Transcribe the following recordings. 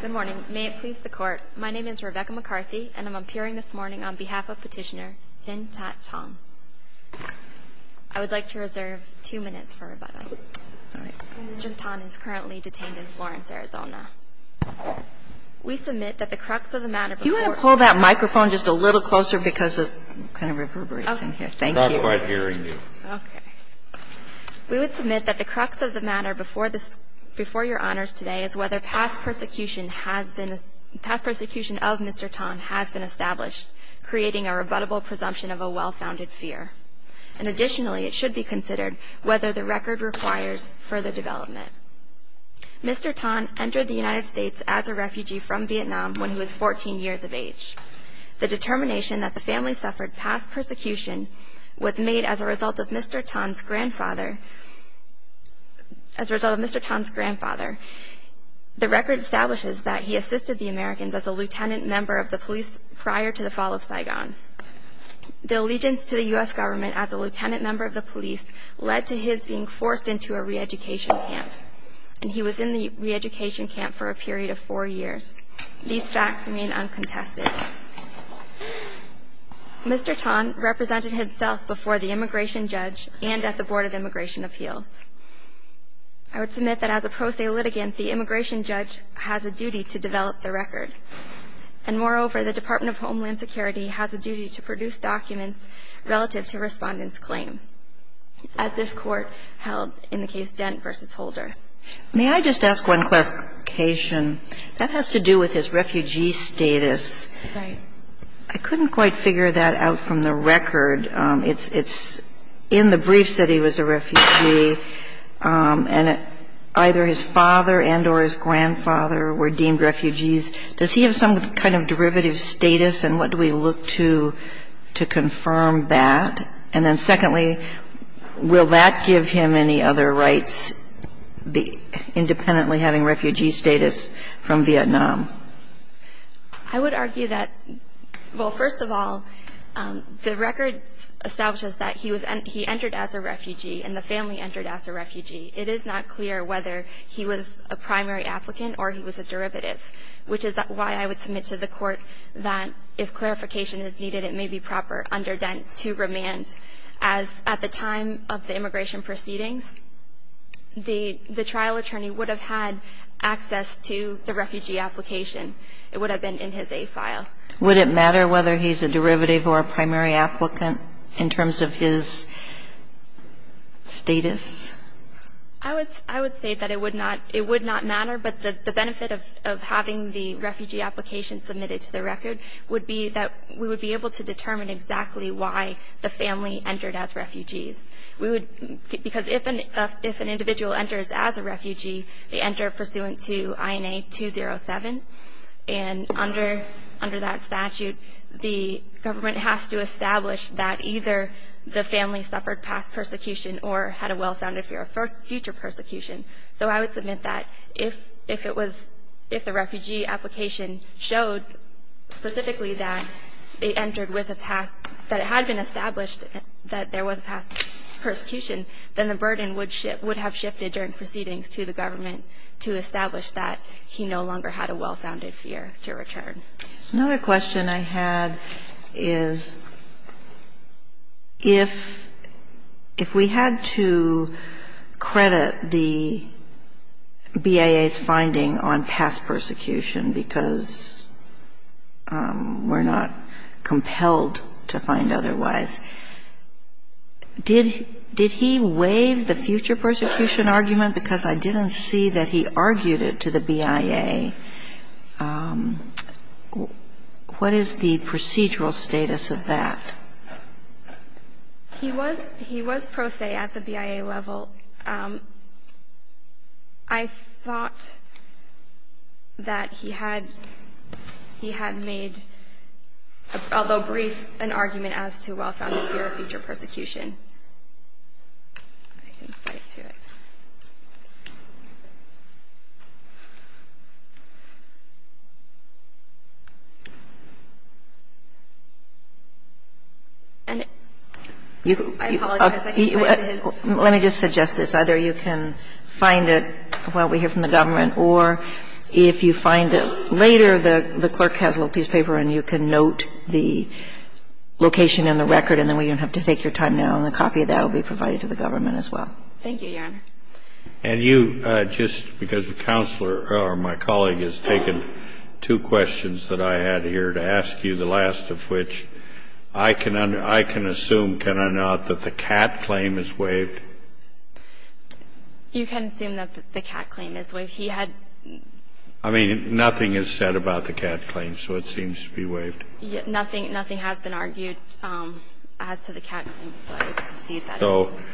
Good morning. May it please the Court, my name is Rebecca McCarthy and I'm appearing this morning on behalf of Petitioner Thien Ton. I would like to reserve two minutes for rebuttal. Mr. Ton is currently detained in Florence, Arizona. We submit that the crux of the matter before... Do you want to pull that microphone just a little closer because it kind of reverberates in here. Thank you. It's not quite hearing you. Okay. We would submit that the crux of the matter before your honors today is whether past persecution of Mr. Ton has been established, creating a rebuttable presumption of a well-founded fear. And additionally, it should be considered whether the record requires further development. Mr. Ton entered the United States as a refugee from Vietnam when he was 14 years of age. The determination that the family suffered past persecution was made as a result of Mr. Ton's grandfather. As a result of Mr. Ton's grandfather, the record establishes that he assisted the Americans as a lieutenant member of the police prior to the fall of Saigon. The allegiance to the U.S. government as a lieutenant member of the police led to his being forced into a re-education camp. And he was in the re-education camp for a period of four years. These facts remain uncontested. Mr. Ton represented himself before the immigration judge and at the Board of Immigration Appeals. I would submit that as a pro se litigant, the immigration judge has a duty to develop the record. And moreover, the Department of Homeland Security has a duty to produce documents relative to Respondent's claim, as this Court held in the case Dent v. Holder. May I just ask one clarification? That has to do with his refugee status. Right. I couldn't quite figure that out from the record. It's in the briefs that he was a refugee, and either his father and or his grandfather were deemed refugees. Does he have some kind of derivative status, and what do we look to to confirm that? And then secondly, will that give him any other rights, independently having refugee status from Vietnam? I would argue that, well, first of all, the record establishes that he entered as a refugee and the family entered as a refugee. It is not clear whether he was a primary applicant or he was a derivative, which is why I would submit to the Court that if clarification is needed, it may be that he was a primary applicant. As at the time of the immigration proceedings, the trial attorney would have had access to the refugee application. It would have been in his A file. Would it matter whether he's a derivative or a primary applicant in terms of his status? I would say that it would not. It would not matter, but the benefit of having the refugee application submitted to the record would be that we would be able to determine exactly why the family entered as refugees. Because if an individual enters as a refugee, they enter pursuant to INA 207, and under that statute, the government has to establish that either the family suffered past persecution or had a well-founded fear of future persecution. So I would submit that if it was – if the refugee application showed specifically that they entered with a past – that it had been established that there was a past persecution, then the burden would have shifted during proceedings to the government to establish that he no longer had a well-founded fear to return. Kagan. Another question I had is if we had to credit the BIA's finding on past persecution because we're not compelled to find otherwise, did he waive the future persecution argument because I didn't see that he argued it to the BIA, what is the procedural status of that? He was – he was pro se at the BIA level. I thought that he had – he had made, although brief, an argument as to a well-founded fear of future persecution. I can cite to it. And it – I apologize, I can't quite see it. Let me just suggest this. Either you can find it while we hear from the government, or if you find it later, the clerk has a little piece of paper and you can note the location in the record and then we don't have to take your time now. And a copy of that will be provided to the government as well. Thank you, Your Honor. And you, just because the counselor or my colleague has taken two questions that I had here to ask you, the last of which, I can – I can assume, can I not, that the Catt claim is waived? You can assume that the Catt claim is waived. He had – I mean, nothing is said about the Catt claim, so it seems to be waived. Nothing – nothing has been argued as to the Catt claim, so I would concede that. So –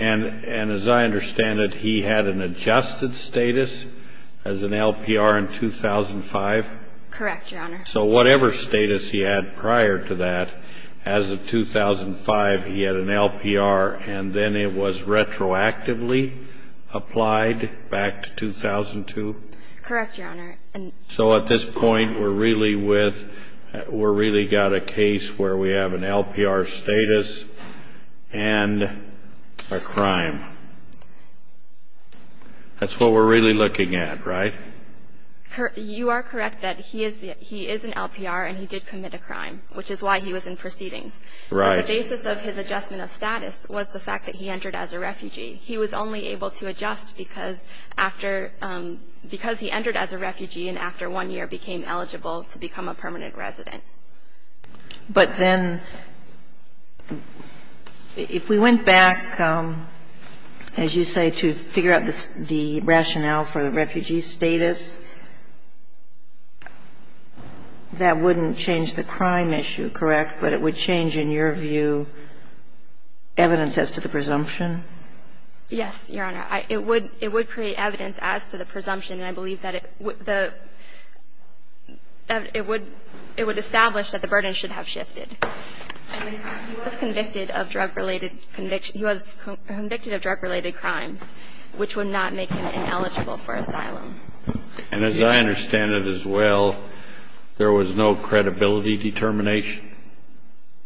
and as I understand it, he had an adjusted status as an LPR in 2005? Correct, Your Honor. So whatever status he had prior to that, as of 2005, he had an LPR and then it was retroactively applied back to 2002? Correct, Your Honor. So at this point, we're really with – we're really got a case where we have an LPR status and a crime. That's what we're really looking at, right? You are correct that he is – he is an LPR and he did commit a crime, which is why he was in proceedings. Right. The basis of his adjustment of status was the fact that he entered as a refugee. He was only able to adjust because after – because he entered as a refugee and after one year became eligible to become a permanent resident. But then if we went back, as you say, to figure out the rationale for the refugee status, that wouldn't change the crime issue, correct? But it would change, in your view, evidence as to the presumption? Yes, Your Honor. It would create evidence as to the presumption. And I believe that it would establish that the burden should have shifted. He was convicted of drug-related – he was convicted of drug-related crimes, which would not make him ineligible for asylum. And as I understand it as well, there was no credibility determination?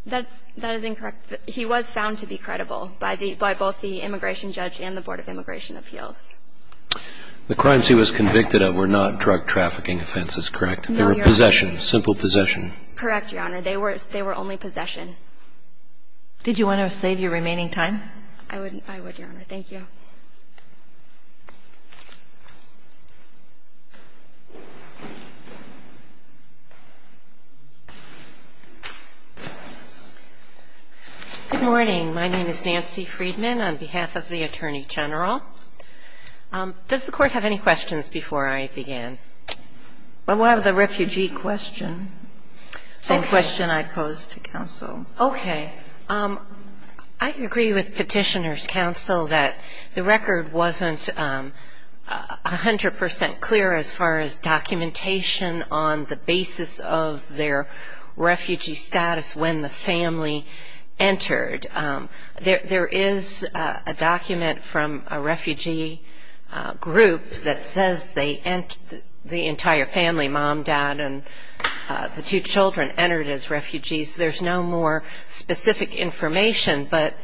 That is incorrect. He was found to be credible by both the immigration judge and the Board of Immigration Appeals. The crimes he was convicted of were not drug-trafficking offenses, correct? No, Your Honor. They were possessions, simple possession. Correct, Your Honor. They were only possession. Did you want to save your remaining time? I would, Your Honor. Thank you. Good morning. My name is Nancy Friedman on behalf of the Attorney General. Does the Court have any questions before I begin? Well, we'll have the refugee question. Okay. The same question I posed to counsel. Okay. I agree with Petitioner's counsel that the record wasn't 100 percent clear as far as documentation on the basis of their refugee status when the family entered. There is a document from a refugee group that says the entire family, mom, dad, and the two children entered as refugees. There's no more specific information, but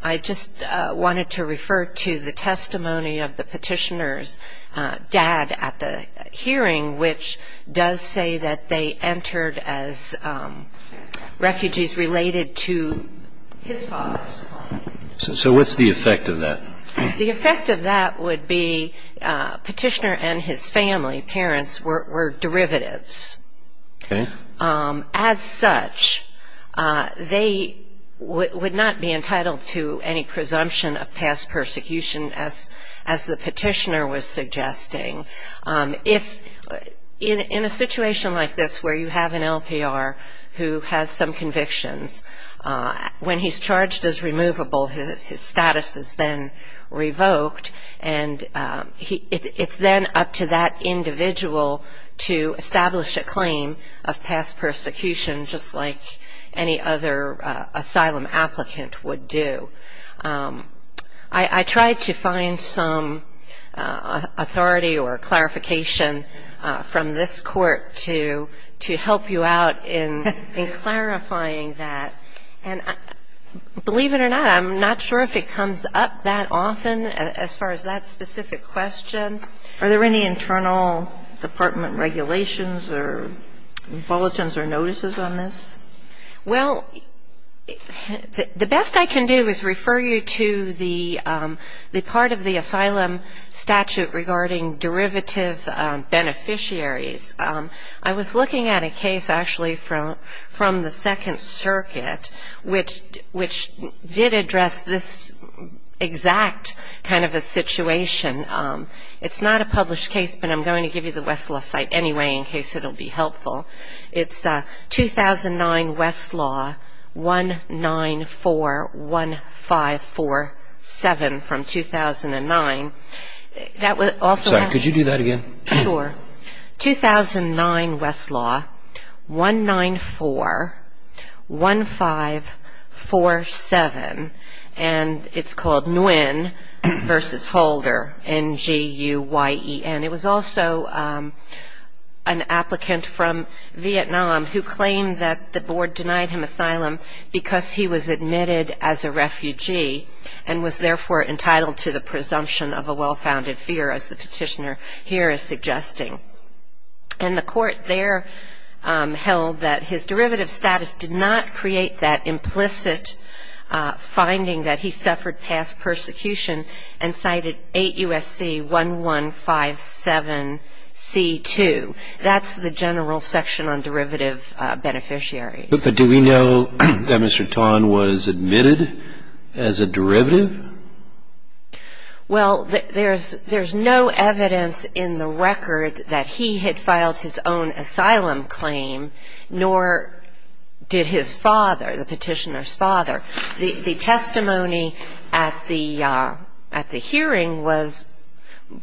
I just wanted to refer to the testimony of the Petitioner's dad at the hearing, which does say that they entered as refugees related to his father's claim. So what's the effect of that? The effect of that would be Petitioner and his family, parents, were derivatives. Okay. As such, they would not be entitled to any presumption of past persecution, as the Petitioner was suggesting. In a situation like this where you have an LPR who has some convictions, when he's charged as removable, his status is then revoked, and it's then up to that individual to establish a claim of past persecution, just like any other asylum applicant would do. I tried to find some authority or clarification from this court to help you out in clarifying that. Believe it or not, I'm not sure if it comes up that often as far as that specific question. Are there any internal department regulations or bulletins or notices on this? Well, the best I can do is refer you to the part of the asylum statute regarding derivative beneficiaries. I was looking at a case actually from the Second Circuit, which did address this exact kind of a situation. It's not a published case, but I'm going to give you the Westlaw site anyway in case it will be helpful. It's 2009 Westlaw 1941547 from 2009. Sorry, could you do that again? Sure. 2009 Westlaw 1941547, and it's called Nguyen v. Holder, N-G-U-Y-E-N. It was also an applicant from Vietnam who claimed that the board denied him asylum because he was admitted as a refugee and was therefore entitled to the presumption of a well-founded fear, as the petitioner here is suggesting. And the court there held that his derivative status did not create that implicit finding that he suffered past persecution and cited 8 U.S.C. 1157C2. That's the general section on derivative beneficiaries. But do we know that Mr. Tan was admitted as a derivative? Well, there's no evidence in the record that he had filed his own asylum claim, nor did his father, the petitioner's father. The testimony at the hearing was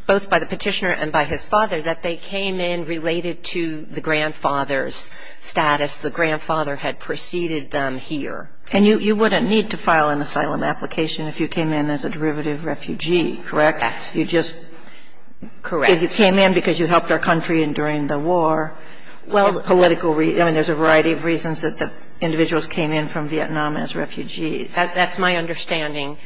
both by the petitioner and by his father that they came in related to the grandfather's status. The grandfather had preceded them here. And you wouldn't need to file an asylum application if you came in as a derivative refugee, correct? Correct. You just came in because you helped our country during the war. I mean, there's a variety of reasons that the individuals came in from Vietnam as refugees. That's my understanding,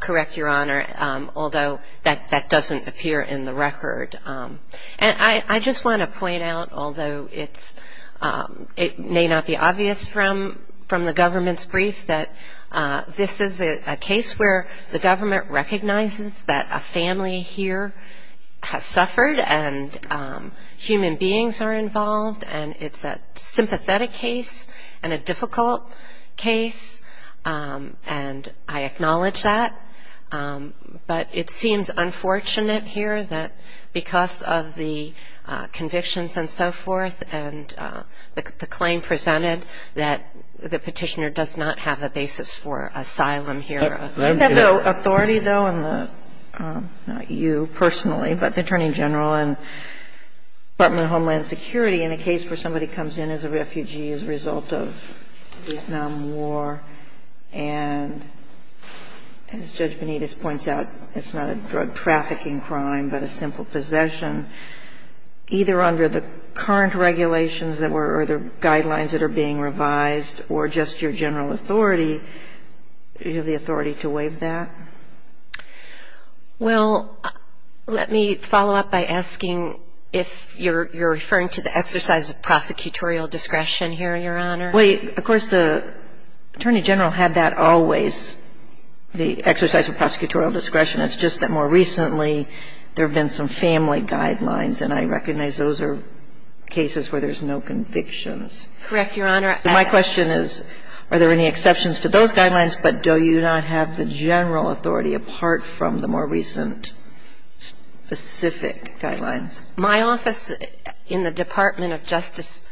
correct, Your Honor, although that doesn't appear in the record. And I just want to point out, although it may not be obvious from the government's brief, that this is a case where the government recognizes that a family here has suffered and human beings are involved, and it's a sympathetic case and a difficult case, and I acknowledge that. But it seems unfortunate here that because of the convictions and so forth and the claim presented that the petitioner does not have a basis for asylum here. You have the authority, though, and the – not you personally, but the Attorney General and Department of Homeland Security in a case where somebody comes in as a refugee as a result of the Vietnam War, and as Judge Benitez points out, it's not a drug trafficking crime but a simple possession. Either under the current regulations or the guidelines that are being revised or just your general authority, do you have the authority to waive that? Well, let me follow up by asking if you're referring to the exercise of prosecutorial discretion here, Your Honor. Well, of course, the Attorney General had that always, the exercise of prosecutorial discretion. It's just that more recently there have been some family guidelines, and I recognize those are cases where there's no convictions. Correct, Your Honor. So my question is, are there any exceptions to those guidelines, but do you not have the general authority apart from the more recent specific guidelines? My office in the Department of Justice,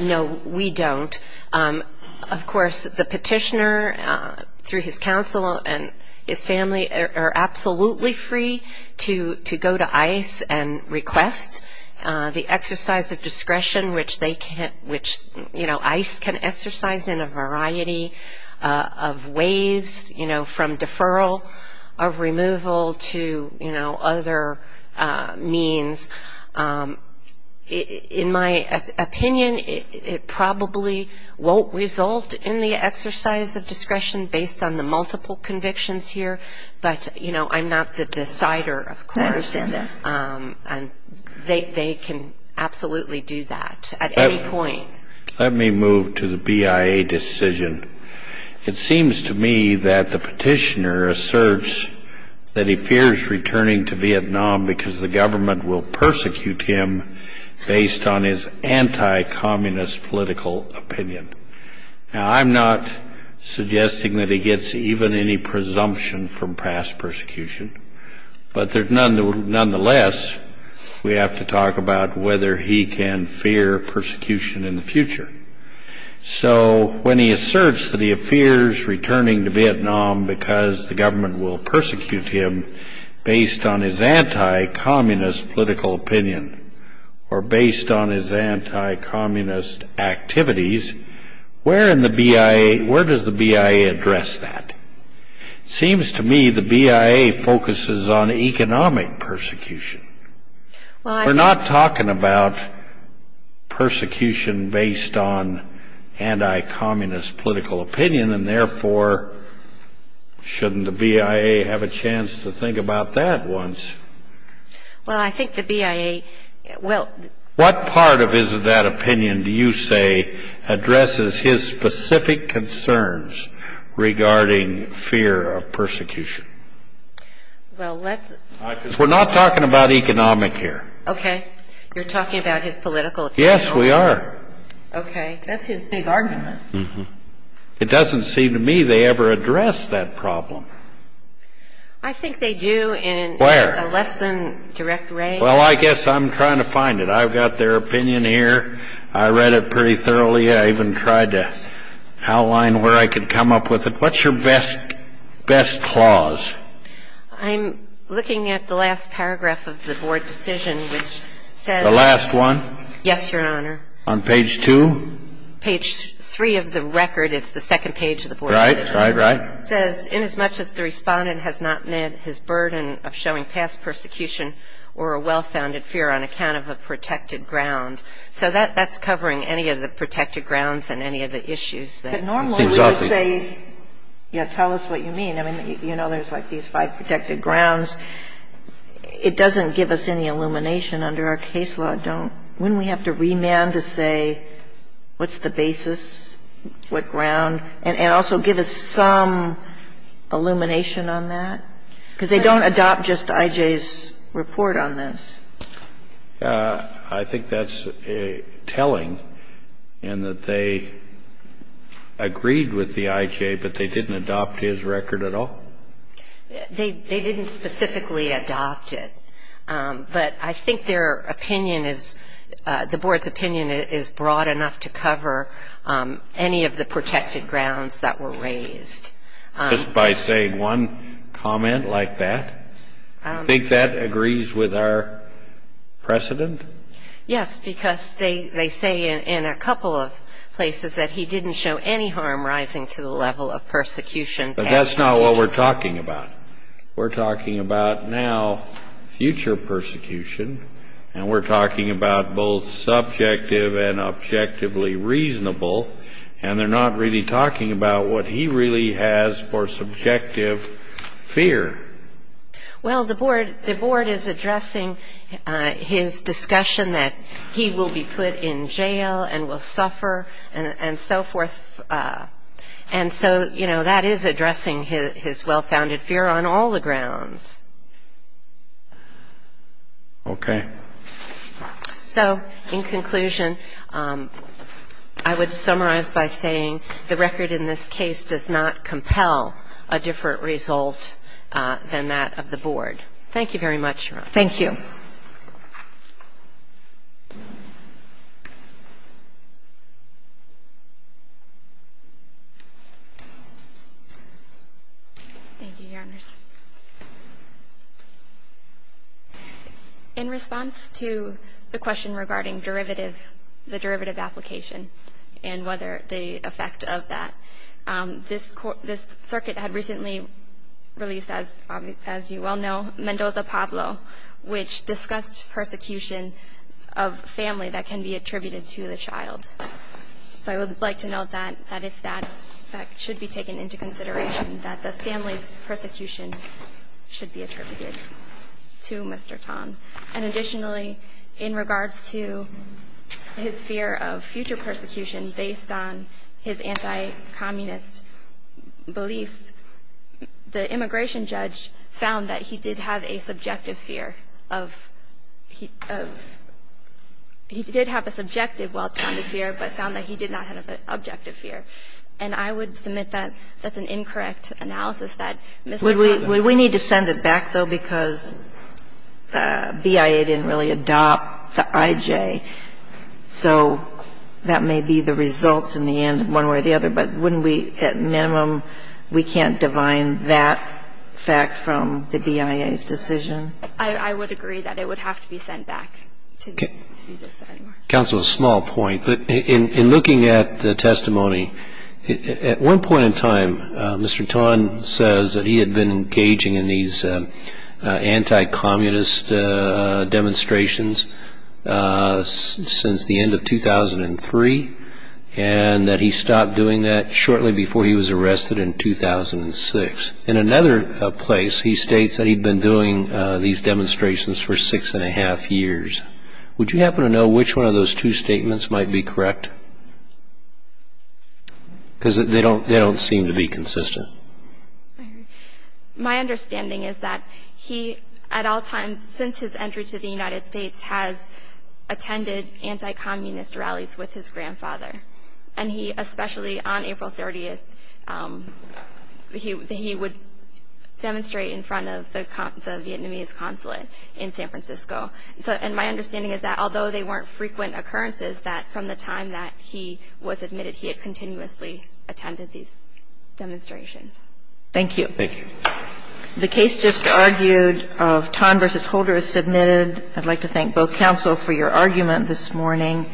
no, we don't. Of course, the petitioner, through his counsel and his family, are absolutely free to go to ICE and request the exercise of discretion, which ICE can exercise in a variety of ways, you know, from deferral of removal to, you know, other means. In my opinion, it probably won't result in the exercise of discretion based on the multiple convictions here, but, you know, I'm not the decider, of course. I understand that. And they can absolutely do that at any point. Let me move to the BIA decision. It seems to me that the petitioner asserts that he fears returning to Vietnam because the government will persecute him based on his anti-communist political opinion. Now, I'm not suggesting that he gets even any presumption from past persecution, but nonetheless, we have to talk about whether he can fear persecution in the future. So when he asserts that he fears returning to Vietnam because the government will persecute him based on his anti-communist political opinion or based on his anti-communist activities, where does the BIA address that? It seems to me the BIA focuses on economic persecution. We're not talking about persecution based on anti-communist political opinion, and therefore shouldn't the BIA have a chance to think about that once? Well, I think the BIA will. What part of his or that opinion do you say addresses his specific concerns regarding fear of persecution? Well, let's – Because we're not talking about economic here. Okay. You're talking about his political opinion? Yes, we are. Okay. That's his big argument. It doesn't seem to me they ever address that problem. I think they do in a less than direct way. Well, I guess I'm trying to find it. I've got their opinion here. I read it pretty thoroughly. I even tried to outline where I could come up with it. What's your best clause? I'm looking at the last paragraph of the board decision, which says – The last one? Yes, Your Honor. On page 2? Page 3 of the record. It's the second page of the board decision. Right, right, right. It says, inasmuch as the respondent has not met his burden of showing past persecution or a well-founded fear on account of a protected ground. So that's covering any of the protected grounds and any of the issues. But normally we would say, yeah, tell us what you mean. I mean, you know, there's like these five protected grounds. It doesn't give us any illumination under our case law. When we have to remand to say what's the basis, what ground, and also give us some illumination on that? Because they don't adopt just I.J.'s report on this. I think that's telling in that they agreed with the I.J., but they didn't adopt his record at all. They didn't specifically adopt it. But I think their opinion is – Just by saying one comment like that? Do you think that agrees with our precedent? Yes, because they say in a couple of places that he didn't show any harm rising to the level of persecution. But that's not what we're talking about. We're talking about now future persecution, and we're talking about both subjective and objectively reasonable, and they're not really talking about what he really has for subjective fear. Well, the board is addressing his discussion that he will be put in jail and will suffer and so forth. And so, you know, that is addressing his well-founded fear on all the grounds. Okay. So in conclusion, I would summarize by saying the record in this case does not compel a different result than that of the board. Thank you very much, Your Honor. Thank you. Thank you, Your Honors. In response to the question regarding the derivative application and whether the effect of that, this circuit had recently released, as you well know, Mendoza-Pablo, which discussed persecution of family that can be attributed to the child. So I would like to note that that should be taken into consideration, that the family's persecution should be attributed to Mr. Tan. And additionally, in regards to his fear of future persecution based on his anti-communist beliefs, the immigration judge found that he did have a subjective fear of he did have a subjective well-founded fear, but found that he did not have an objective fear. And I would submit that that's an incorrect analysis, that Mr. Tan did not have an objective fear. Would we need to send it back, though, because BIA didn't really adopt the IJ, so that may be the result in the end one way or the other. But wouldn't we, at minimum, we can't divine that fact from the BIA's decision? I would agree that it would have to be sent back. Counsel, a small point. In looking at the testimony, at one point in time, Mr. Tan says that he had been engaging in these anti-communist demonstrations since the end of 2003, and that he stopped doing that shortly before he was arrested in 2006. In another place, he states that he'd been doing these demonstrations for six and a half years. Would you happen to know which one of those two statements might be correct? Because they don't seem to be consistent. My understanding is that he, at all times since his entry to the United States, has attended anti-communist rallies with his grandfather. And he, especially on April 30th, he would demonstrate in front of the Vietnamese consulate in San Francisco. And my understanding is that although they weren't frequent occurrences, that from the time that he was admitted, he had continuously attended these demonstrations. Thank you. Thank you. The case just argued of Tan v. Holder is submitted. I'd like to thank both counsel for your argument this morning.